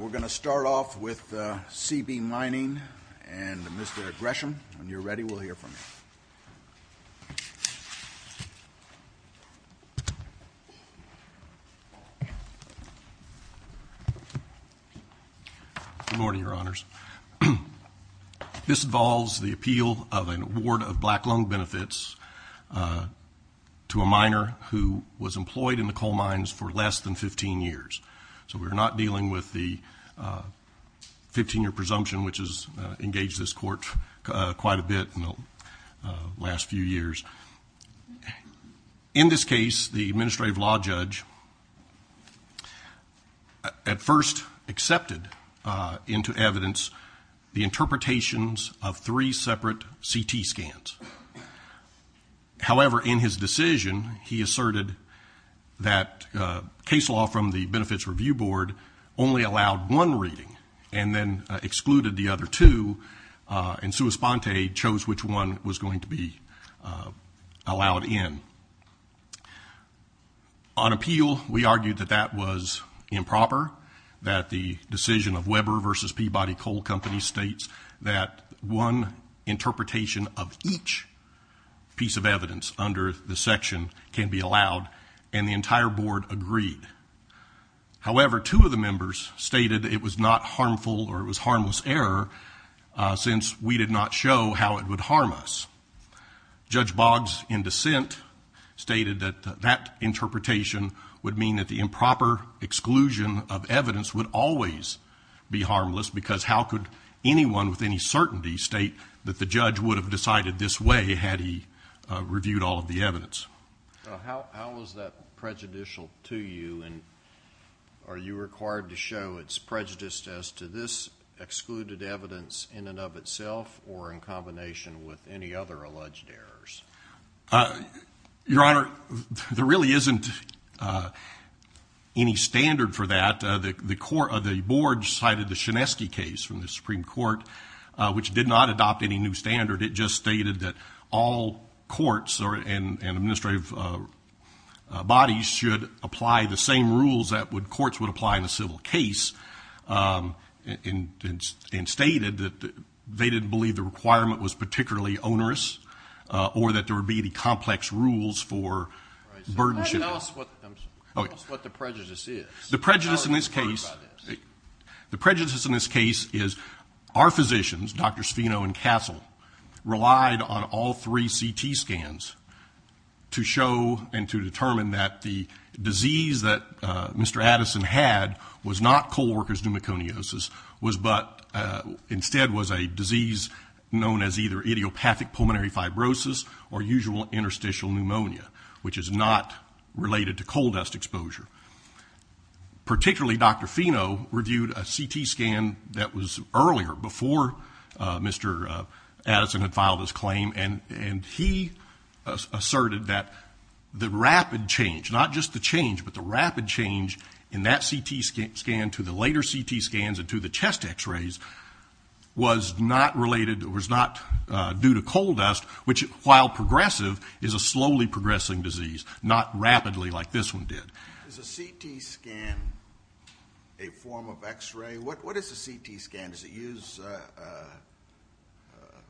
We're going to start off with C.B. Mining and Mr. Gresham. When you're ready, we'll hear from you. Good morning, Your Honors. This involves the appeal of an award of black loan benefits to a miner who was employed in the coal mines for less than 15 years. So we're not dealing with the 15-year presumption, which has engaged this court quite a bit in the last few years. In this case, the administrative law judge at first accepted into evidence the interpretations of three separate CT scans. However, in his decision, he asserted that case law from the Benefits Review Board only allowed one reading and then excluded the other two, and sua sponte chose which one was going to be allowed in. On appeal, we argued that that was improper, that the decision of Weber v. Peabody Coal Company states that one interpretation of each piece of evidence under the section can be allowed, and the entire board agreed. However, two of the members stated it was not harmful or it was harmless error since we did not show how it would harm us. Judge Boggs, in dissent, stated that that interpretation would mean that the improper exclusion of evidence would always be harmless because how could anyone with any certainty state that the judge would have decided this way had he reviewed all of the evidence? How is that prejudicial to you, and are you required to show it's prejudiced as to this excluded evidence in and of itself or in combination with any other alleged errors? Your Honor, there really isn't any standard for that. The board cited the Shineski case from the Supreme Court, which did not adopt any new standard. It just stated that all courts and administrative bodies should apply the same rules that courts would apply in a civil case and stated that they didn't believe the requirement was particularly onerous or that there would be any complex rules for burdenship. Tell us what the prejudice is. The prejudice in this case is our physicians, Dr. Sfino and Castle, relied on all three CT scans to show and to determine that the disease that Mr. Addison had was not coal worker's pneumoconiosis, but instead was a disease known as either idiopathic pulmonary fibrosis or usual interstitial pneumonia, which is not related to coal dust exposure. Particularly, Dr. Fino reviewed a CT scan that was earlier, before Mr. Addison had filed his claim, and he asserted that the rapid change, not just the change, but the rapid change in that CT scan to the later CT scans and to the chest X-rays was not related, was not due to coal dust, which, while progressive, is a slowly progressing disease, not rapidly like this one did. Is a CT scan a form of X-ray? What is a CT scan? Does it use,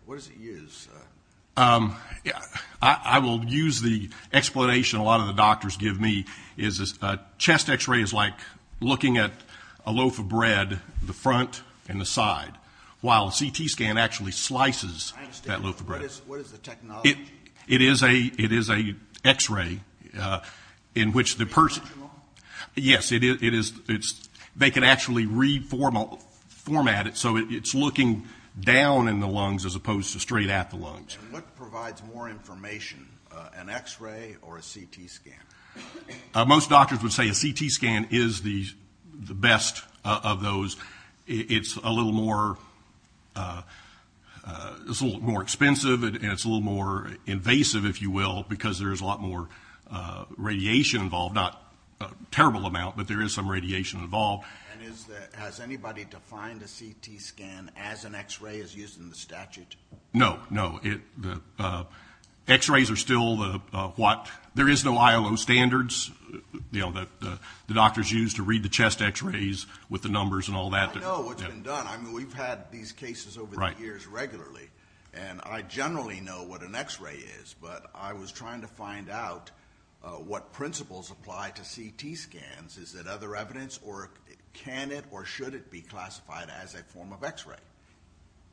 what does it use? I will use the explanation a lot of the doctors give me. A chest X-ray is like looking at a loaf of bread, the front and the side, while a CT scan actually slices that loaf of bread. I understand, but what is the technology? It is a X-ray in which the person. Is it original? Yes, it is. They can actually reformat it so it's looking down in the lungs as opposed to straight at the lungs. What provides more information, an X-ray or a CT scan? Most doctors would say a CT scan is the best of those. It's a little more expensive and it's a little more invasive, if you will, because there is a lot more radiation involved, not a terrible amount, but there is some radiation involved. Has anybody defined a CT scan as an X-ray as used in the statute? No, no. X-rays are still what? There is no ILO standards, you know, that the doctors use to read the chest X-rays with the numbers and all that. I know what's been done. I mean, we've had these cases over the years regularly, and I generally know what an X-ray is, but I was trying to find out what principles apply to CT scans. Is it other evidence or can it or should it be classified as a form of X-ray?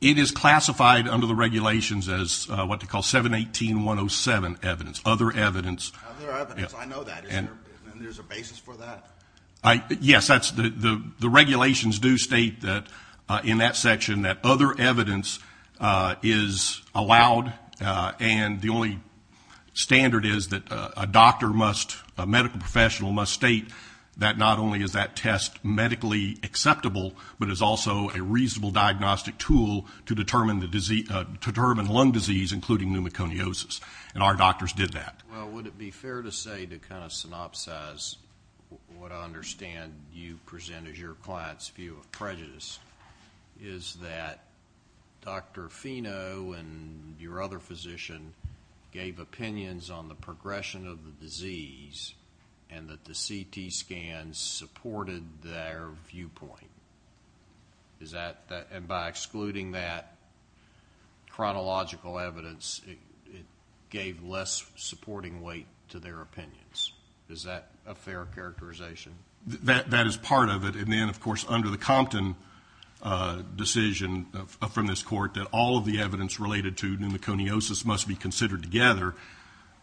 It is classified under the regulations as what they call 718.107 evidence, other evidence. Other evidence. I know that. Isn't there a basis for that? Yes, the regulations do state in that section that other evidence is allowed, and the only standard is that a doctor must, a medical professional must state that not only is that test medically acceptable, but is also a reasonable diagnostic tool to determine lung disease, including pneumoconiosis, and our doctors did that. Well, would it be fair to say to kind of synopsize what I understand you present as your client's view of prejudice is that Dr. Fino and your other physician gave opinions on the progression of the disease and that the CT scans supported their viewpoint? And by excluding that chronological evidence, it gave less supporting weight to their opinions. Is that a fair characterization? That is part of it. And then, of course, under the Compton decision from this court that all of the evidence related to pneumoconiosis must be considered together,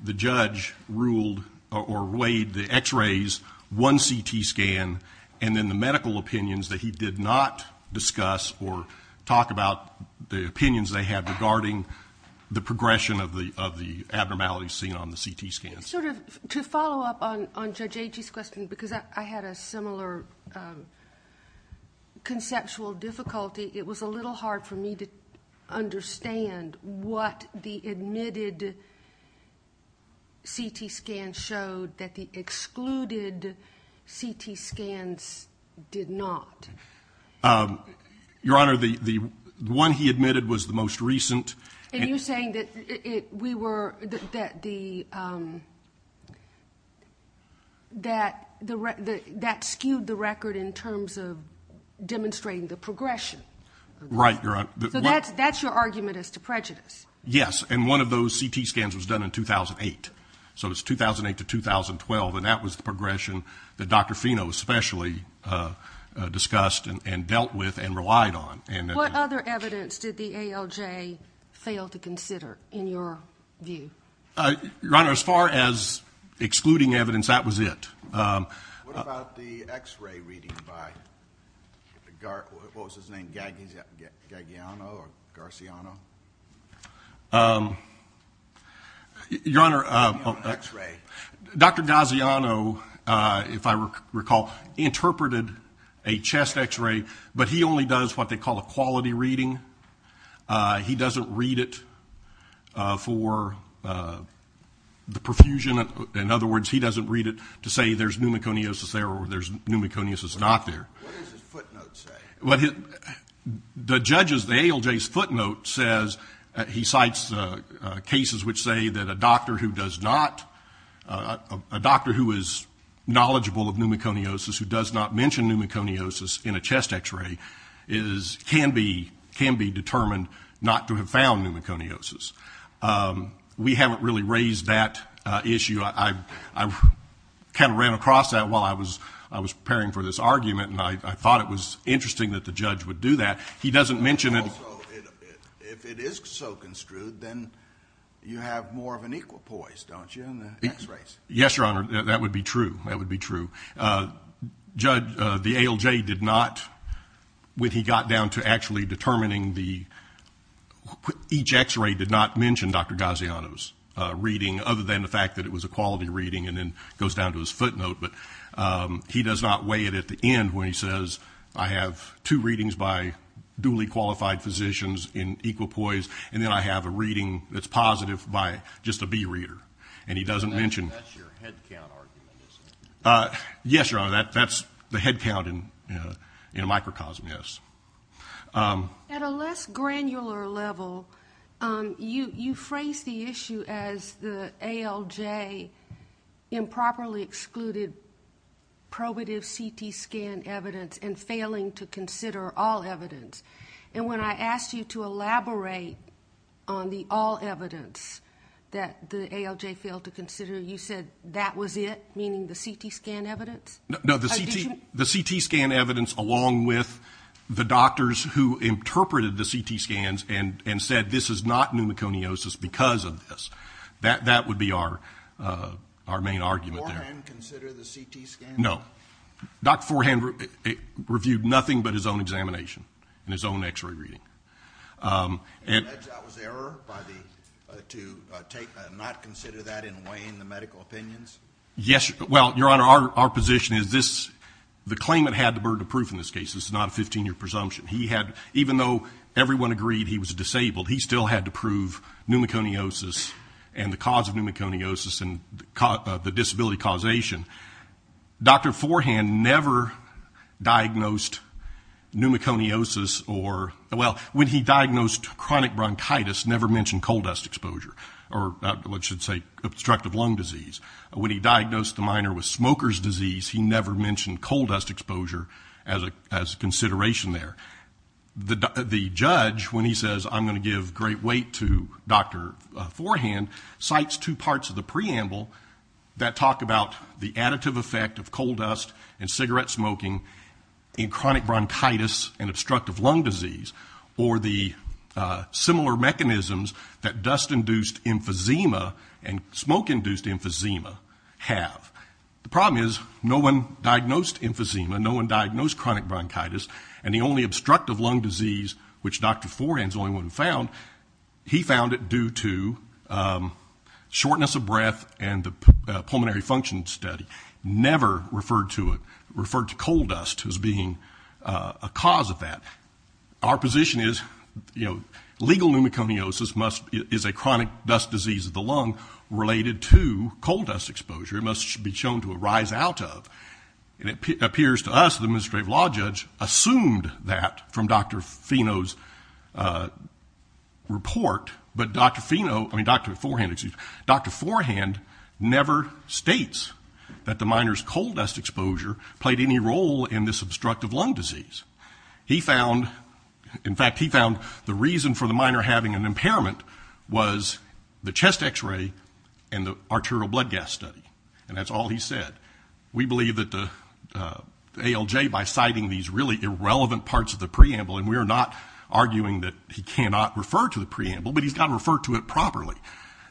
the judge ruled or weighed the x-rays, one CT scan, and then the medical opinions that he did not discuss or talk about the opinions they had regarding the progression of the abnormalities seen on the CT scans. To follow up on Judge Agee's question, because I had a similar conceptual difficulty, it was a little hard for me to understand what the admitted CT scans showed that the excluded CT scans did not. Your Honor, the one he admitted was the most recent. And you're saying that that skewed the record in terms of demonstrating the progression? Right, Your Honor. So that's your argument as to prejudice? Yes, and one of those CT scans was done in 2008. So it was 2008 to 2012, and that was the progression that Dr. Fino especially discussed and dealt with and relied on. What other evidence did the ALJ fail to consider in your view? Your Honor, as far as excluding evidence, that was it. What about the x-ray reading by, what was his name, Gagliano or Garciano? Your Honor, Dr. Gagliano, if I recall, interpreted a chest x-ray, but he only does what they call a quality reading. He doesn't read it for the perfusion. In other words, he doesn't read it to say there's pneumoconiosis there or there's pneumoconiosis not there. What does his footnote say? The judge's, the ALJ's footnote says, he cites cases which say that a doctor who does not, a doctor who is knowledgeable of pneumoconiosis, who does not mention pneumoconiosis in a chest x-ray, can be determined not to have found pneumoconiosis. We haven't really raised that issue. I kind of ran across that while I was preparing for this argument, and I thought it was interesting that the judge would do that. He doesn't mention it. Also, if it is so construed, then you have more of an equal poise, don't you? Yes, Your Honor. That would be true. That would be true. The ALJ did not, when he got down to actually determining the, each x-ray did not mention Dr. Gaziano's reading, other than the fact that it was a quality reading and then goes down to his footnote. But he does not weigh it at the end when he says, I have two readings by duly qualified physicians in equal poise, and then I have a reading that's positive by just a B reader. And he doesn't mention it. That's your head count argument, isn't it? Yes, Your Honor. That's the head count in microcosm, yes. At a less granular level, you phrase the issue as the ALJ improperly excluded probative CT scan evidence and failing to consider all evidence. And when I asked you to elaborate on the all evidence that the ALJ failed to consider, you said that was it, meaning the CT scan evidence? No, the CT scan evidence along with the doctors who interpreted the CT scans and said this is not pneumoconiosis because of this. That would be our main argument there. Did Forehand consider the CT scan? No. Dr. Forehand reviewed nothing but his own examination and his own x-ray reading. And that was error to not consider that in weighing the medical opinions? Yes. Well, Your Honor, our position is the claimant had the burden of proof in this case. This is not a 15-year presumption. Even though everyone agreed he was disabled, he still had to prove pneumoconiosis and the cause of pneumoconiosis and the disability causation. Dr. Forehand never diagnosed pneumoconiosis or, well, when he diagnosed chronic bronchitis, never mentioned coal dust exposure or what you'd say obstructive lung disease. When he diagnosed the minor with smoker's disease, he never mentioned coal dust exposure as a consideration there. The judge, when he says I'm going to give great weight to Dr. Forehand, cites two parts of the preamble that talk about the additive effect of coal dust and cigarette smoking in chronic bronchitis and obstructive lung disease or the similar mechanisms that dust-induced emphysema and smoke-induced emphysema have. The problem is no one diagnosed emphysema, no one diagnosed chronic bronchitis, and the only obstructive lung disease, which Dr. Forehand is the only one who found, he found it due to shortness of breath and the pulmonary function study. Never referred to it, referred to coal dust as being a cause of that. Our position is legal pneumoconiosis is a chronic dust disease of the lung related to coal dust exposure. It must be shown to arise out of. It appears to us the administrative law judge assumed that from Dr. Fino's report, but Dr. Forehand never states that the minor's coal dust exposure played any role in this obstructive lung disease. In fact, he found the reason for the minor having an impairment was the chest X-ray and the arterial blood gas study, and that's all he said. We believe that the ALJ, by citing these really irrelevant parts of the preamble, and we are not arguing that he cannot refer to the preamble, but he's got to refer to it properly.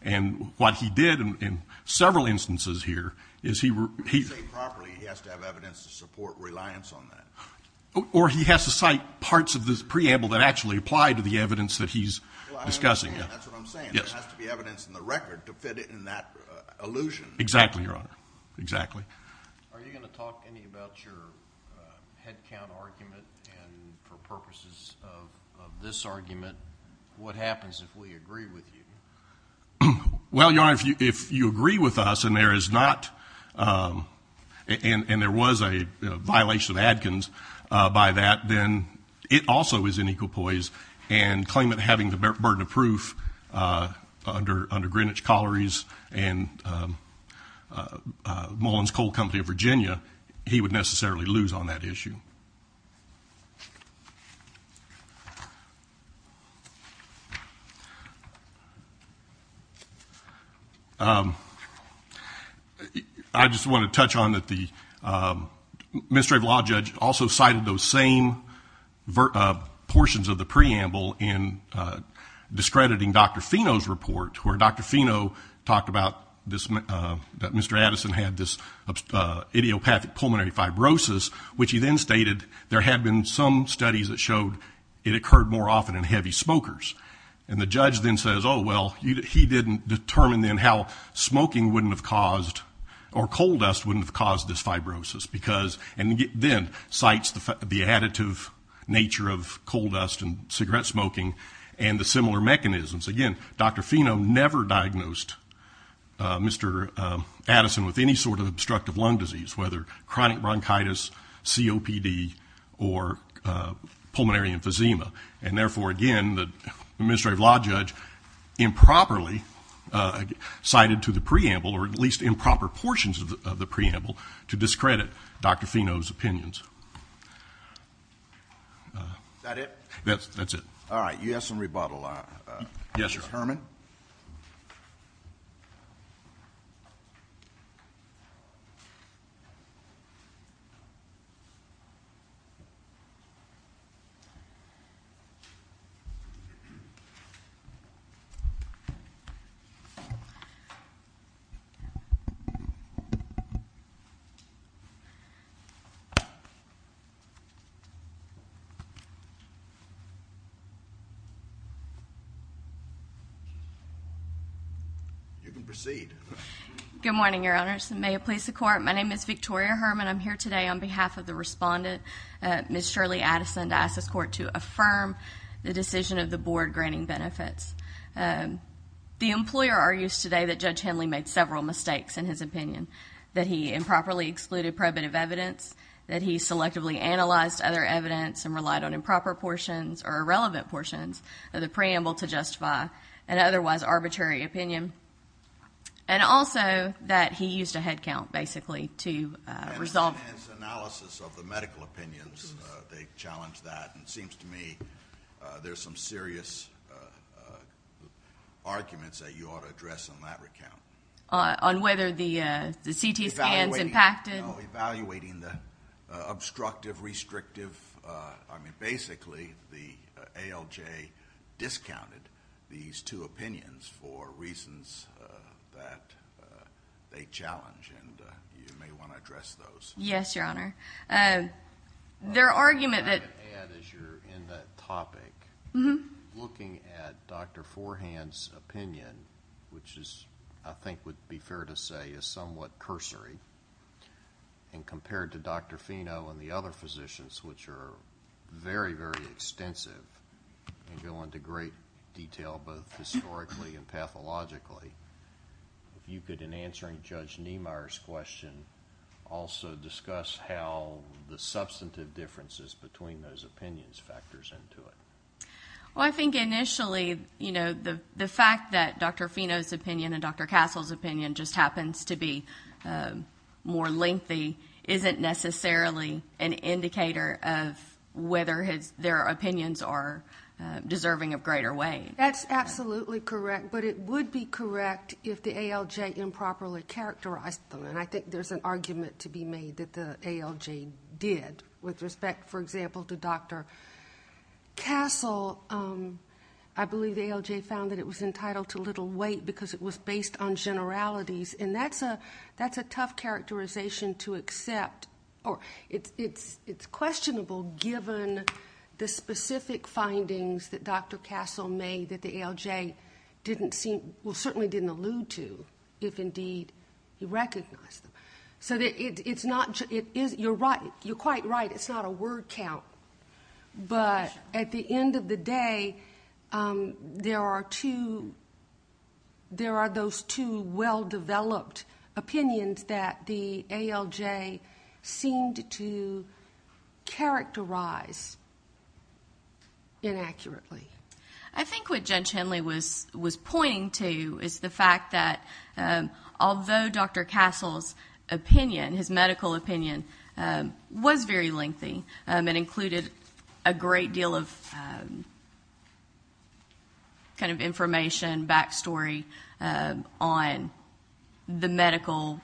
And what he did in several instances here is he were... When you say properly, he has to have evidence to support reliance on that. Or he has to cite parts of this preamble that actually apply to the evidence that he's discussing. That's what I'm saying. There has to be evidence in the record to fit it in that allusion. Exactly, Your Honor, exactly. Are you going to talk any about your headcount argument? And for purposes of this argument, what happens if we agree with you? Well, Your Honor, if you agree with us and there is not... and there was a violation of Adkins by that, then it also is in equal poise and claimant having the burden of proof under Greenwich Collieries and Mullins Coal Company of Virginia, he would necessarily lose on that issue. I just want to touch on that the administrative law judge also cited those same portions of the preamble in discrediting Dr. Fino's report where Dr. Fino talked about that Mr. Addison had this idiopathic pulmonary fibrosis, which he then stated there had been some studies that showed it occurred more often in heavy smokers. And the judge then says, oh, well, he didn't determine then how smoking wouldn't have caused or coal dust wouldn't have caused this fibrosis. And then cites the additive nature of coal dust and cigarette smoking and the similar mechanisms. Again, Dr. Fino never diagnosed Mr. Addison with any sort of obstructive lung disease, whether chronic bronchitis, COPD, or pulmonary emphysema. And therefore, again, the administrative law judge improperly cited to the preamble to discredit Dr. Fino's opinions. Is that it? That's it. All right. You have some rebuttal. Yes, sir. You can proceed. Good morning, Your Honors. May it please the Court. My name is Victoria Herman. I'm here today on behalf of the respondent, Ms. Shirley Addison, to ask this Court to affirm the decision of the Board granting benefits. The employer argues today that Judge Henley made several mistakes in his opinion, that he improperly excluded probative evidence, that he selectively analyzed other evidence and relied on improper portions or irrelevant portions of the preamble to justify an otherwise arbitrary opinion, and also that he used a head count, basically, to resolve it. And his analysis of the medical opinions, they challenged that. And it seems to me there's some serious arguments that you ought to address in that recount. On whether the CT scans impacted? No, evaluating the obstructive, restrictive. I mean, basically, the ALJ discounted these two opinions for reasons that they challenged. And you may want to address those. Yes, Your Honor. Their argument that ---- May I add, as you're in that topic, looking at Dr. Forehand's opinion, which I think would be fair to say is somewhat cursory, and compared to Dr. Fino and the other physicians, which are very, very extensive and go into great detail both historically and pathologically, if you could, in answering Judge Niemeyer's question, also discuss how the substantive differences between those opinions factors into it. Well, I think initially, you know, the fact that Dr. Fino's opinion and Dr. Castle's opinion just happens to be more lengthy isn't necessarily an indicator of whether their opinions are deserving of greater weight. That's absolutely correct, but it would be correct if the ALJ improperly characterized them. And I think there's an argument to be made that the ALJ did, with respect, for example, to Dr. Castle, I believe the ALJ found that it was entitled to little weight because it was based on generalities, and that's a tough characterization to accept. It's questionable given the specific findings that Dr. Castle made that the ALJ didn't seem, well, certainly didn't allude to, if indeed he recognized them. So you're quite right, it's not a word count. But at the end of the day, there are those two well-developed opinions that the ALJ seemed to characterize inaccurately. I think what Judge Henley was pointing to is the fact that although Dr. Castle's medical opinion was very lengthy and included a great deal of information, backstory on the medical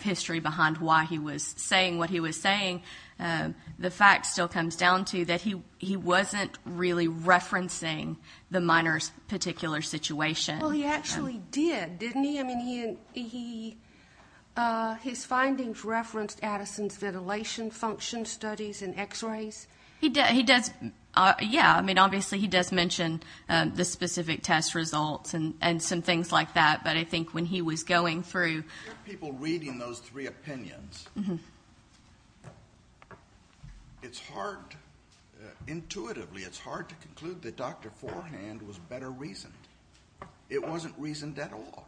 history behind why he was saying what he was saying, the fact still comes down to that he wasn't really referencing the minor's particular situation. Well, he actually did, didn't he? I mean, his findings referenced Addison's ventilation function studies and X-rays. Yeah, I mean, obviously he does mention the specific test results and some things like that, but I think when he was going through... People reading those three opinions, it's hard, intuitively, it's hard to conclude that Dr. Forehand was better reasoned. It wasn't reasoned at all.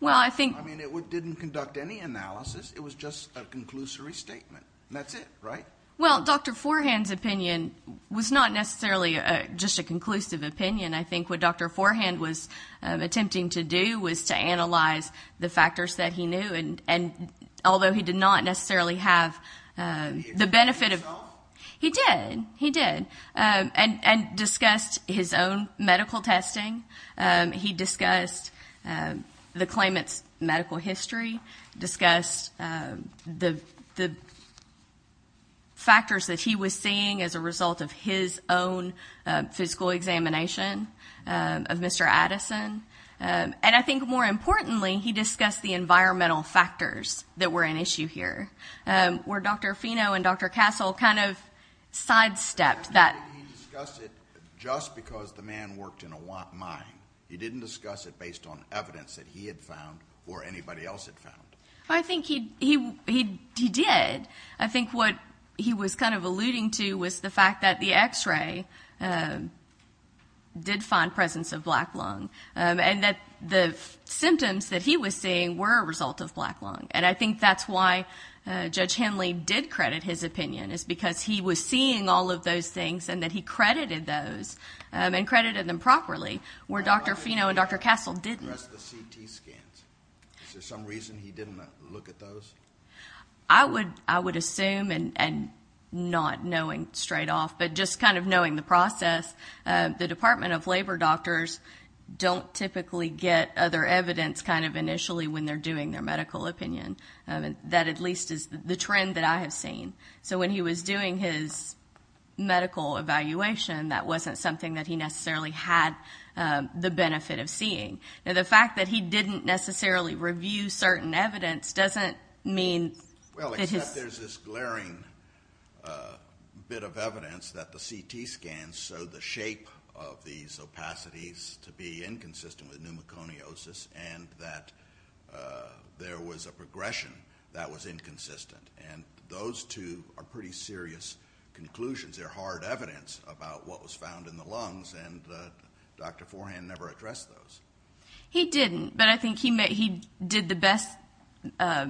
Well, I think... I mean, it didn't conduct any analysis. It was just a conclusory statement, and that's it, right? Well, Dr. Forehand's opinion was not necessarily just a conclusive opinion. I think what Dr. Forehand was attempting to do was to analyze the factors that he knew, and although he did not necessarily have the benefit of... Did he do it himself? He did, he did, and discussed his own medical testing. He discussed the claimant's medical history, discussed the factors that he was seeing as a result of his own physical examination of Mr. Addison, and I think, more importantly, he discussed the environmental factors that were an issue here, where Dr. Fino and Dr. Castle kind of sidestepped that. He discussed it just because the man worked in a mine. He didn't discuss it based on evidence that he had found or anybody else had found. I think he did. I think what he was kind of alluding to was the fact that the X-ray did find presence of black lung, and that the symptoms that he was seeing were a result of black lung, and I think that's why Judge Henley did credit his opinion, is because he was seeing all of those things and that he credited those and credited them properly, where Dr. Fino and Dr. Castle didn't. Is there some reason he didn't look at those? I would assume, and not knowing straight off, but just kind of knowing the process, the Department of Labor doctors don't typically get other evidence kind of initially when they're doing their medical opinion. That at least is the trend that I have seen. So when he was doing his medical evaluation, that wasn't something that he necessarily had the benefit of seeing. Now, the fact that he didn't necessarily review certain evidence doesn't mean that his... Well, except there's this glaring bit of evidence that the CT scans show the shape of these opacities to be inconsistent with pneumoconiosis and that there was a progression that was inconsistent, and those two are pretty serious conclusions. They're hard evidence about what was found in the lungs, and Dr. Forehand never addressed those. He didn't, but I think he did the best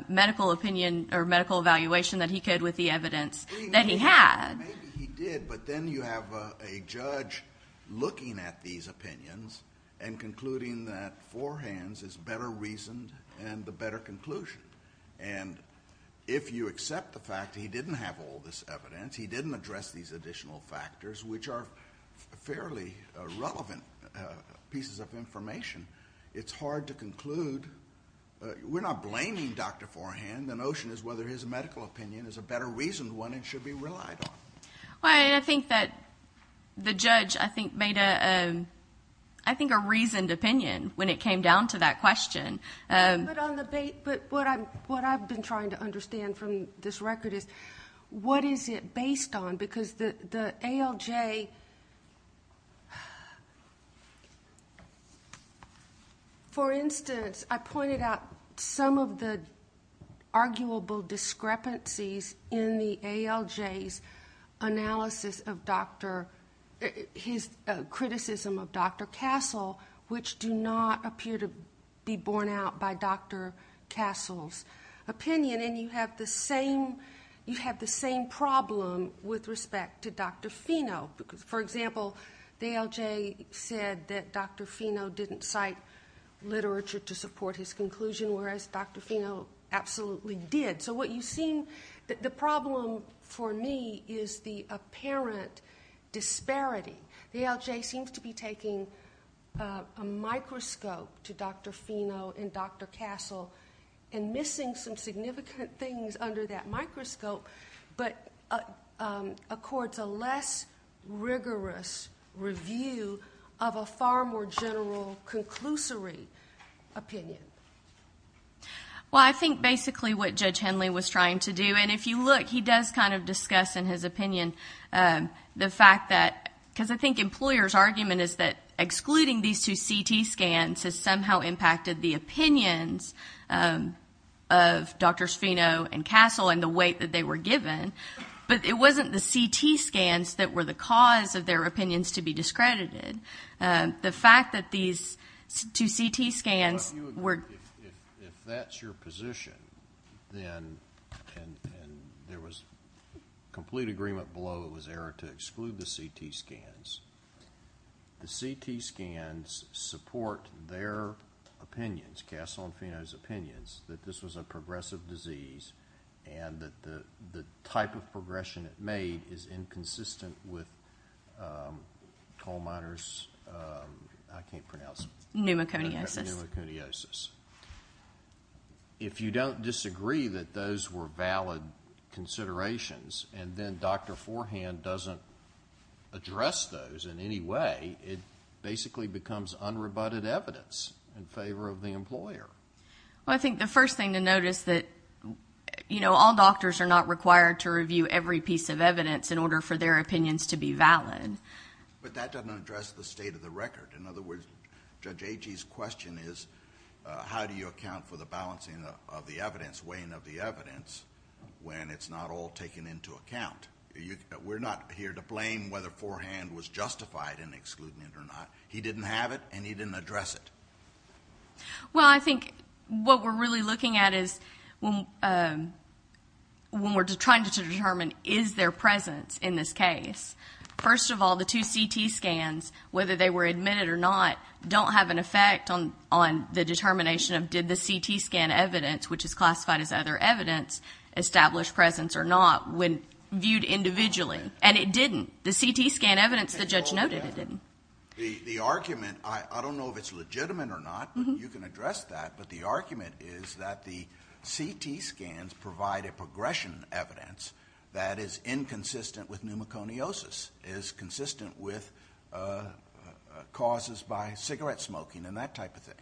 medical opinion or medical evaluation that he could with the evidence that he had. Maybe he did, but then you have a judge looking at these opinions and concluding that Forehand's is better reasoned and the better conclusion. And if you accept the fact that he didn't have all this evidence, he didn't address these additional factors, which are fairly relevant pieces of information, it's hard to conclude. We're not blaming Dr. Forehand. The notion is whether his medical opinion is a better reasoned one and should be relied on. I think that the judge, I think, made a reasoned opinion when it came down to that question. But what I've been trying to understand from this record is what is it based on? Because the ALJ, for instance, I pointed out some of the arguable discrepancies in the ALJ's analysis of Dr. his criticism of Dr. Castle, which do not appear to be borne out by Dr. Castle's opinion, and you have the same problem with respect to Dr. Fino. For example, the ALJ said that Dr. Fino didn't cite literature to support his conclusion, whereas Dr. Fino absolutely did. So what you see, the problem for me is the apparent disparity. The ALJ seems to be taking a microscope to Dr. Fino and Dr. Castle and missing some significant things under that microscope, but accords a less rigorous review of a far more general conclusory opinion. Well, I think basically what Judge Henley was trying to do, and if you look, he does kind of discuss in his opinion the fact that because I think employers' argument is that excluding these two CT scans has somehow impacted the opinions of Drs. Fino and Castle and the weight that they were given, but it wasn't the CT scans that were the cause of their opinions to be discredited. The fact that these two CT scans were- Well, if that's your position, then, and there was complete agreement below it was error to exclude the CT scans, the CT scans support their opinions, Castle and Fino's opinions, that this was a progressive disease and that the type of progression it made is inconsistent with coal miners' I can't pronounce it. Pneumoconiosis. Pneumoconiosis. If you don't disagree that those were valid considerations and then Dr. Forehand doesn't address those in any way, it basically becomes unrebutted evidence in favor of the employer. Well, I think the first thing to note is that all doctors are not required to review every piece of evidence in order for their opinions to be valid. But that doesn't address the state of the record. In other words, Judge Agee's question is how do you account for the balancing of the evidence, weighing of the evidence, when it's not all taken into account? We're not here to blame whether Forehand was justified in excluding it or not. He didn't have it, and he didn't address it. Well, I think what we're really looking at is when we're trying to determine is there presence in this case, first of all, the two CT scans, whether they were admitted or not, don't have an effect on the determination of did the CT scan evidence, which is classified as other evidence, establish presence or not when viewed individually. And it didn't. The CT scan evidence the judge noted, it didn't. The argument, I don't know if it's legitimate or not, but you can address that, but the argument is that the CT scans provide a progression evidence that is inconsistent with pneumoconiosis, is consistent with causes by cigarette smoking and that type of thing.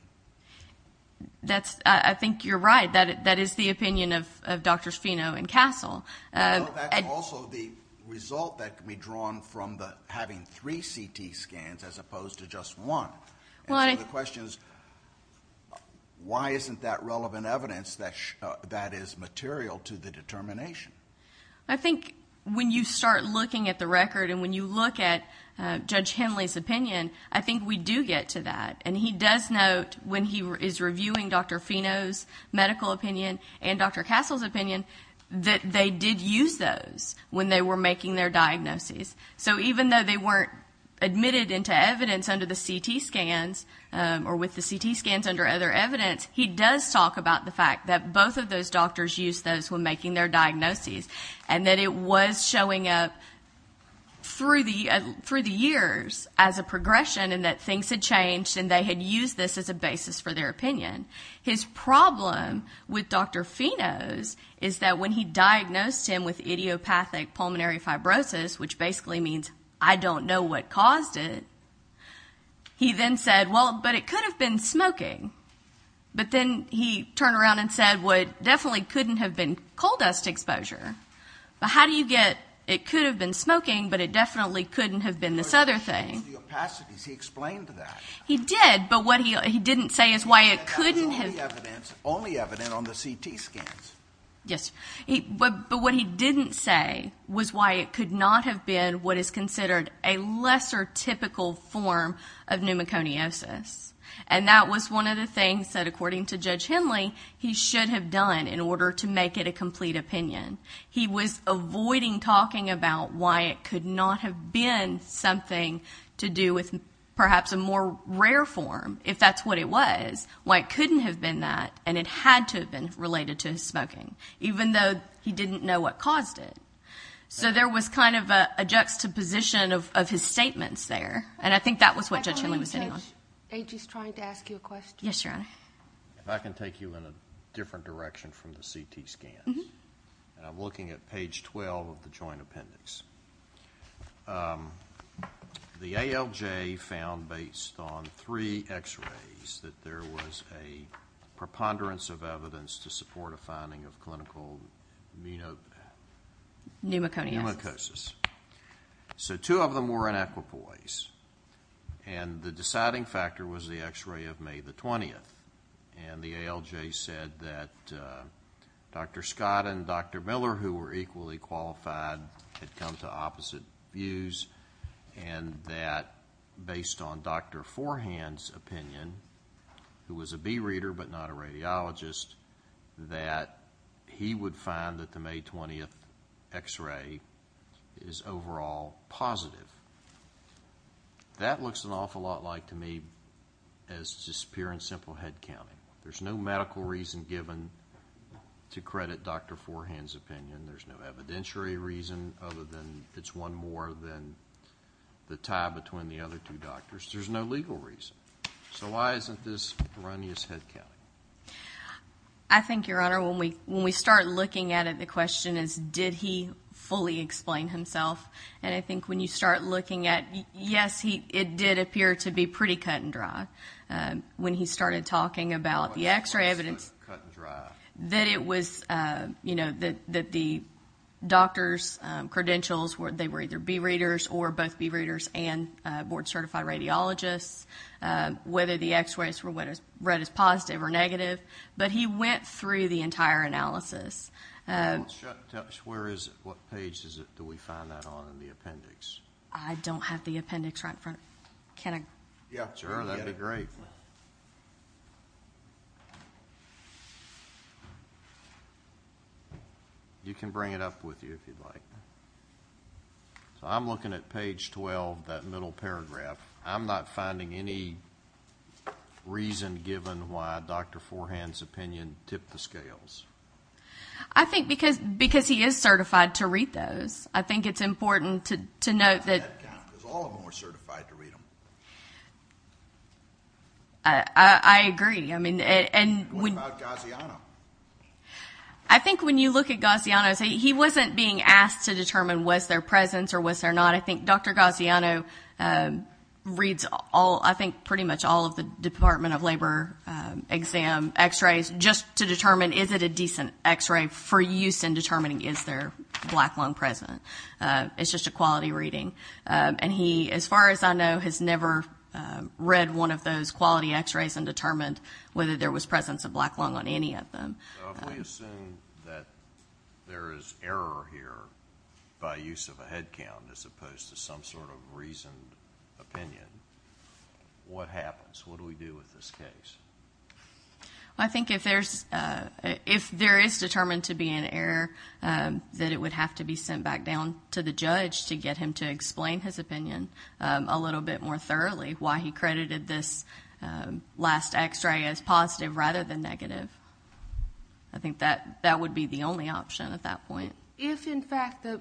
I think you're right. That is the opinion of Drs. Fino and Castle. That's also the result that can be drawn from having three CT scans as opposed to just one. So the question is why isn't that relevant evidence that is material to the determination? I think when you start looking at the record and when you look at Judge Henley's opinion, I think we do get to that. And he does note when he is reviewing Dr. Fino's medical opinion and Dr. Castle's opinion that they did use those when they were making their diagnoses. So even though they weren't admitted into evidence under the CT scans or with the CT scans under other evidence, he does talk about the fact that both of those doctors used those when making their diagnoses and that it was showing up through the years as a progression and that things had changed and they had used this as a basis for their opinion. His problem with Dr. Fino's is that when he diagnosed him with idiopathic pulmonary fibrosis, which basically means I don't know what caused it, he then said, well, but it could have been smoking. But then he turned around and said what definitely couldn't have been coal dust exposure. But how do you get it could have been smoking, but it definitely couldn't have been this other thing. He explained that. He did, but what he didn't say is why it couldn't have been. Only evidence on the CT scans. Yes. But what he didn't say was why it could not have been what is considered a lesser typical form of pneumoconiosis. And that was one of the things that, according to Judge Henley, he should have done in order to make it a complete opinion. He was avoiding talking about why it could not have been something to do with perhaps a more rare form, if that's what it was, why it couldn't have been that and it had to have been related to smoking, even though he didn't know what caused it. So there was kind of a juxtaposition of his statements there, and I think that was what Judge Henley was hitting on. I believe Judge Agy is trying to ask you a question. Yes, Your Honor. If I can take you in a different direction from the CT scans. I'm looking at page 12 of the joint appendix. The ALJ found, based on three X-rays, that there was a preponderance of evidence to support a finding of clinical pneumoconiosis. So two of them were in equipoise, and the deciding factor was the X-ray of May 20th, and the ALJ said that Dr. Scott and Dr. Miller, who were equally qualified, had come to opposite views and that, based on Dr. Forehand's opinion, who was a bee reader but not a radiologist, that he would find that the May 20th X-ray is overall positive. That looks an awful lot like, to me, as just pure and simple head counting. There's no medical reason given to credit Dr. Forehand's opinion. There's no evidentiary reason other than it's one more than the tie between the other two doctors. There's no legal reason. So why isn't this erroneous head counting? I think, Your Honor, when we start looking at it, the question is, did he fully explain himself? And I think when you start looking at it, yes, it did appear to be pretty cut and dry when he started talking about the X-ray evidence. Cut and dry. That it was, you know, that the doctor's credentials, they were either bee readers or both bee readers and board-certified radiologists. Whether the X-rays were read as positive or negative. But he went through the entire analysis. Where is it? What page do we find that on in the appendix? I don't have the appendix right in front of me. Can I...? Yeah, sure, that'd be great. You can bring it up with you if you'd like. So I'm looking at page 12, that middle paragraph. I'm not finding any reason given why Dr. Forehand's opinion tipped the scales. I think because he is certified to read those. I think it's important to note that... All of them are certified to read them. I agree. What about Gaziano? I think when you look at Gaziano, he wasn't being asked to determine was there presence or was there not. I think Dr. Gaziano reads, I think, pretty much all of the Department of Labor exam X-rays just to determine is it a decent X-ray for use in determining is there black lung present. It's just a quality reading. And he, as far as I know, has never read one of those quality X-rays and determined whether there was presence of black lung on any of them. If we assume that there is error here by use of a head count as opposed to some sort of reasoned opinion, what happens? What do we do with this case? I think if there is determined to be an error, that it would have to be sent back down to the judge to get him to explain his opinion a little bit more thoroughly why he credited this last X-ray as positive rather than negative. I think that would be the only option at that point. If, in fact, the...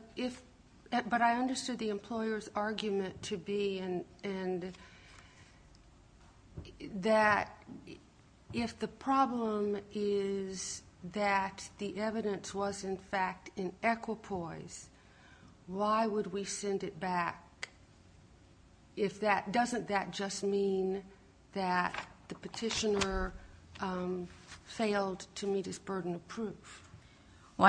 But I understood the employer's argument to be and that if the problem is that the evidence was, in fact, in equipoise, why would we send it back if that... employer failed to meet its burden of proof? Well,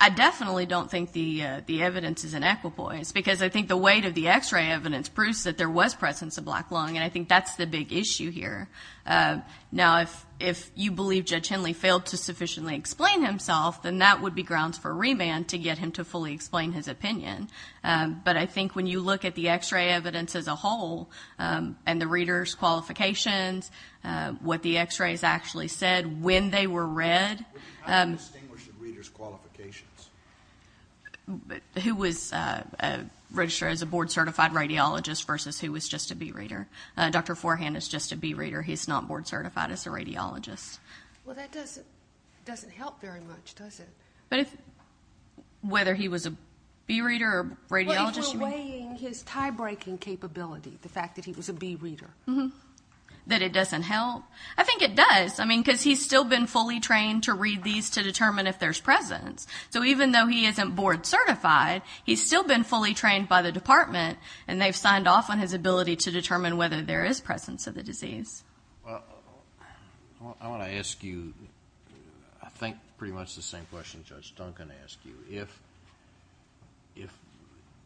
I definitely don't think the evidence is in equipoise because I think the weight of the X-ray evidence proves that there was presence of black lung, and I think that's the big issue here. Now, if you believe Judge Henley failed to sufficiently explain himself, then that would be grounds for remand to get him to fully explain his opinion. But I think when you look at the X-ray evidence as a whole and the reader's qualifications, what the X-rays actually said when they were read... How do you distinguish the reader's qualifications? Who was registered as a board-certified radiologist versus who was just a B-reader. Dr. Forehand is just a B-reader. He's not board-certified as a radiologist. Well, that doesn't help very much, does it? But whether he was a B-reader or a radiologist... Well, if you're weighing his tie-breaking capability, the fact that he was a B-reader. That it doesn't help? I think it does. I mean, because he's still been fully trained to read these to determine if there's presence. So even though he isn't board-certified, he's still been fully trained by the department, and they've signed off on his ability to determine whether there is presence of the disease. Well, I want to ask you, I think, pretty much the same question Judge Duncan asked you. If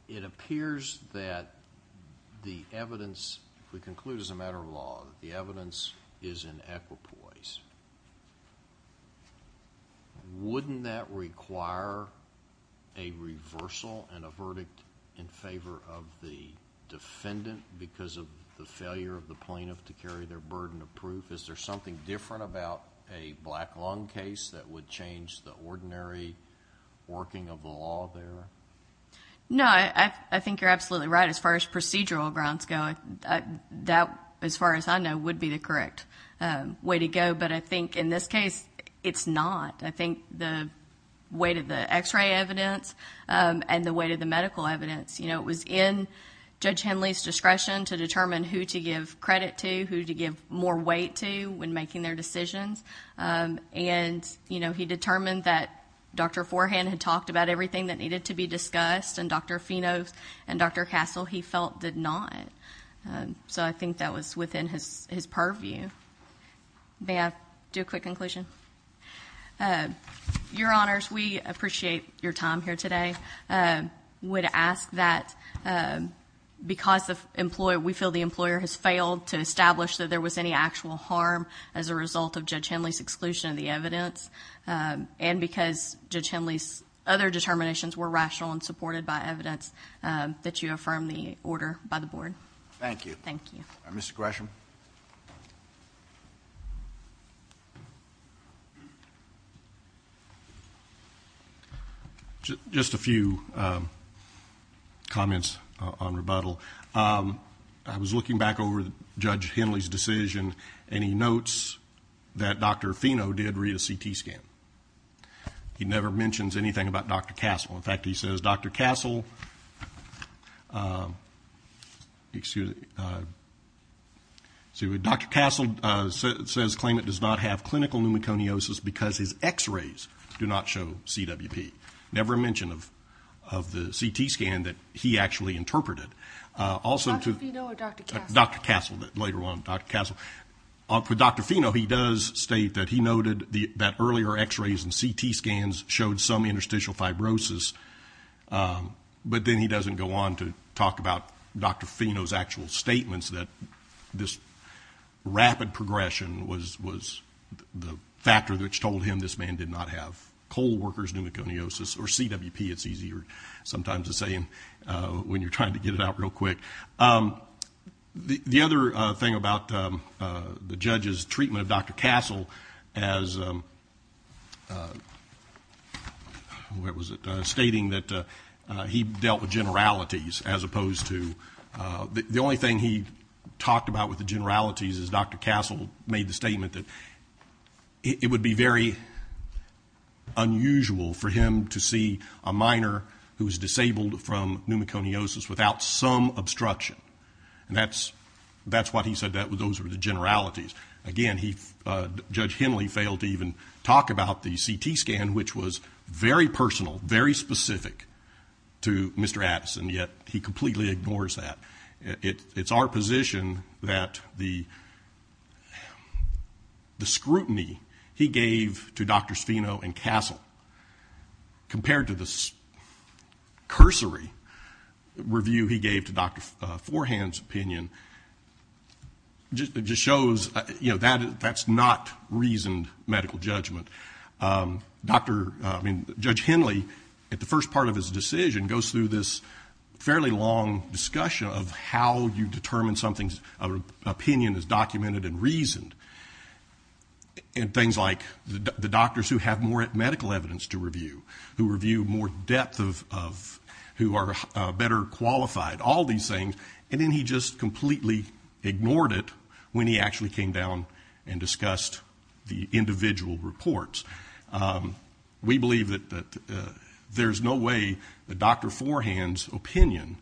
it appears that the evidence, if we conclude as a matter of law, that the evidence is in equipoise, wouldn't that require a reversal and a verdict in favor of the defendant because of the failure of the plaintiff to carry their burden of proof? Is there something different about a black lung case that would change the ordinary working of the law there? No, I think you're absolutely right. As far as procedural grounds go, that, as far as I know, would be the correct way to go. But I think in this case, it's not. I think the weight of the X-ray evidence and the weight of the medical evidence, it was in Judge Henley's discretion to determine who to give credit to, who to give more weight to when making their decisions. And, you know, he determined that Dr. Forehand had talked about everything that needed to be discussed and Dr. Fino and Dr. Castle, he felt, did not. So I think that was within his purview. May I do a quick conclusion? Your Honors, we appreciate your time here today. We would ask that because we feel the employer has failed to establish that there was any actual harm as a result of Judge Henley's exclusion of the evidence and because Judge Henley's other determinations were rational and supported by evidence, that you affirm the order by the Board. Thank you. Thank you. Mr. Gresham. Just a few comments on rebuttal. I was looking back over Judge Henley's decision. And he notes that Dr. Fino did read a CT scan. He never mentions anything about Dr. Castle. In fact, he says Dr. Castle, excuse me, Dr. Castle says, claim it does not have clinical pneumoconiosis because his x-rays do not show CWP. Never mention of the CT scan that he actually interpreted. Dr. Fino or Dr. Castle? Dr. Castle, later on, Dr. Castle. For Dr. Fino, he does state that he noted that earlier x-rays and CT scans showed some interstitial fibrosis. But then he doesn't go on to talk about Dr. Fino's actual statements that this rapid progression was the factor which told him this man did not have cold workers pneumoconiosis or CWP, it's easier sometimes to say when you're trying to get it out real quick. The other thing about the judge's treatment of Dr. Castle as, what was it, stating that he dealt with generalities as opposed to... The only thing he talked about with the generalities is Dr. Castle made the statement that it would be very unusual for him to see a minor who is disabled from pneumoconiosis without some obstruction. That's what he said, those were the generalities. Again, Judge Henley failed to even talk about the CT scan, which was very personal, very specific to Mr. Addison, yet he completely ignores that. It's our position that the scrutiny he gave to Dr. Fino and Castle compared to the cursory review he gave to Dr. Forehand's opinion just shows that's not reasoned medical judgment. Judge Henley, at the first part of his decision, goes through this fairly long discussion of how you determine something's opinion is documented and reasoned. Things like the doctors who have more medical evidence to review, who review more depth, who are better qualified, all these things, and then he just completely ignored it when he actually came down and discussed the individual reports. We believe that there's no way that Dr. Forehand's opinion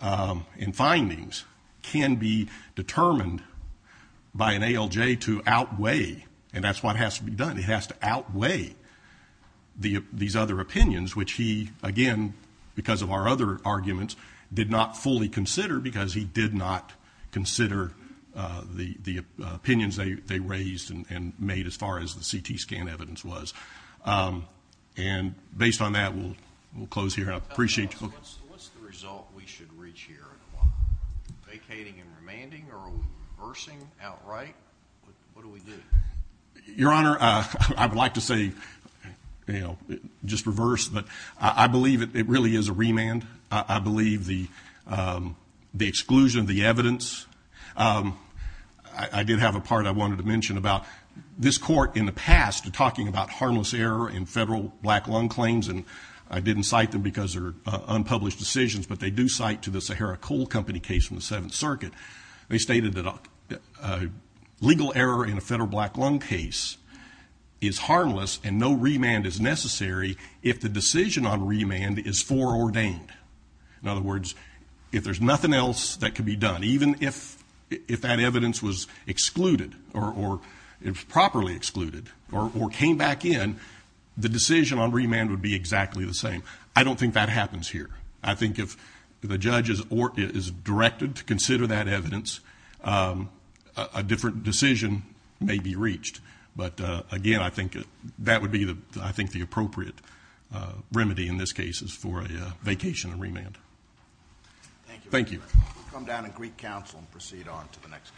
and findings can be determined by an ALJ to outweigh, and that's what has to be done, it has to outweigh these other opinions, which he, again, because of our other arguments, did not fully consider because he did not consider the opinions they raised and made as far as the CT scan evidence was. And based on that, we'll close here. What's the result we should reach here? Vacating and remanding or reversing outright? What do we do? Your Honor, I would like to say just reverse, but I believe it really is a remand. I believe the exclusion of the evidence. I did have a part I wanted to mention about this court in the past talking about harmless error in federal black lung claims, and I didn't cite them because they're unpublished decisions, but they do cite to the Sahara Coal Company case from the Seventh Circuit. They stated that legal error in a federal black lung case is harmless and no remand is necessary if the decision on remand is foreordained. In other words, if there's nothing else that can be done, even if that evidence was excluded or properly excluded or came back in, the decision on remand would be exactly the same. I don't think that happens here. I think if the judge is directed to consider that evidence, a different decision may be reached. But, again, I think that would be, I think, the appropriate remedy in this case is for a vacation and remand. Thank you. We'll come down to Greek Council and proceed on to the next case.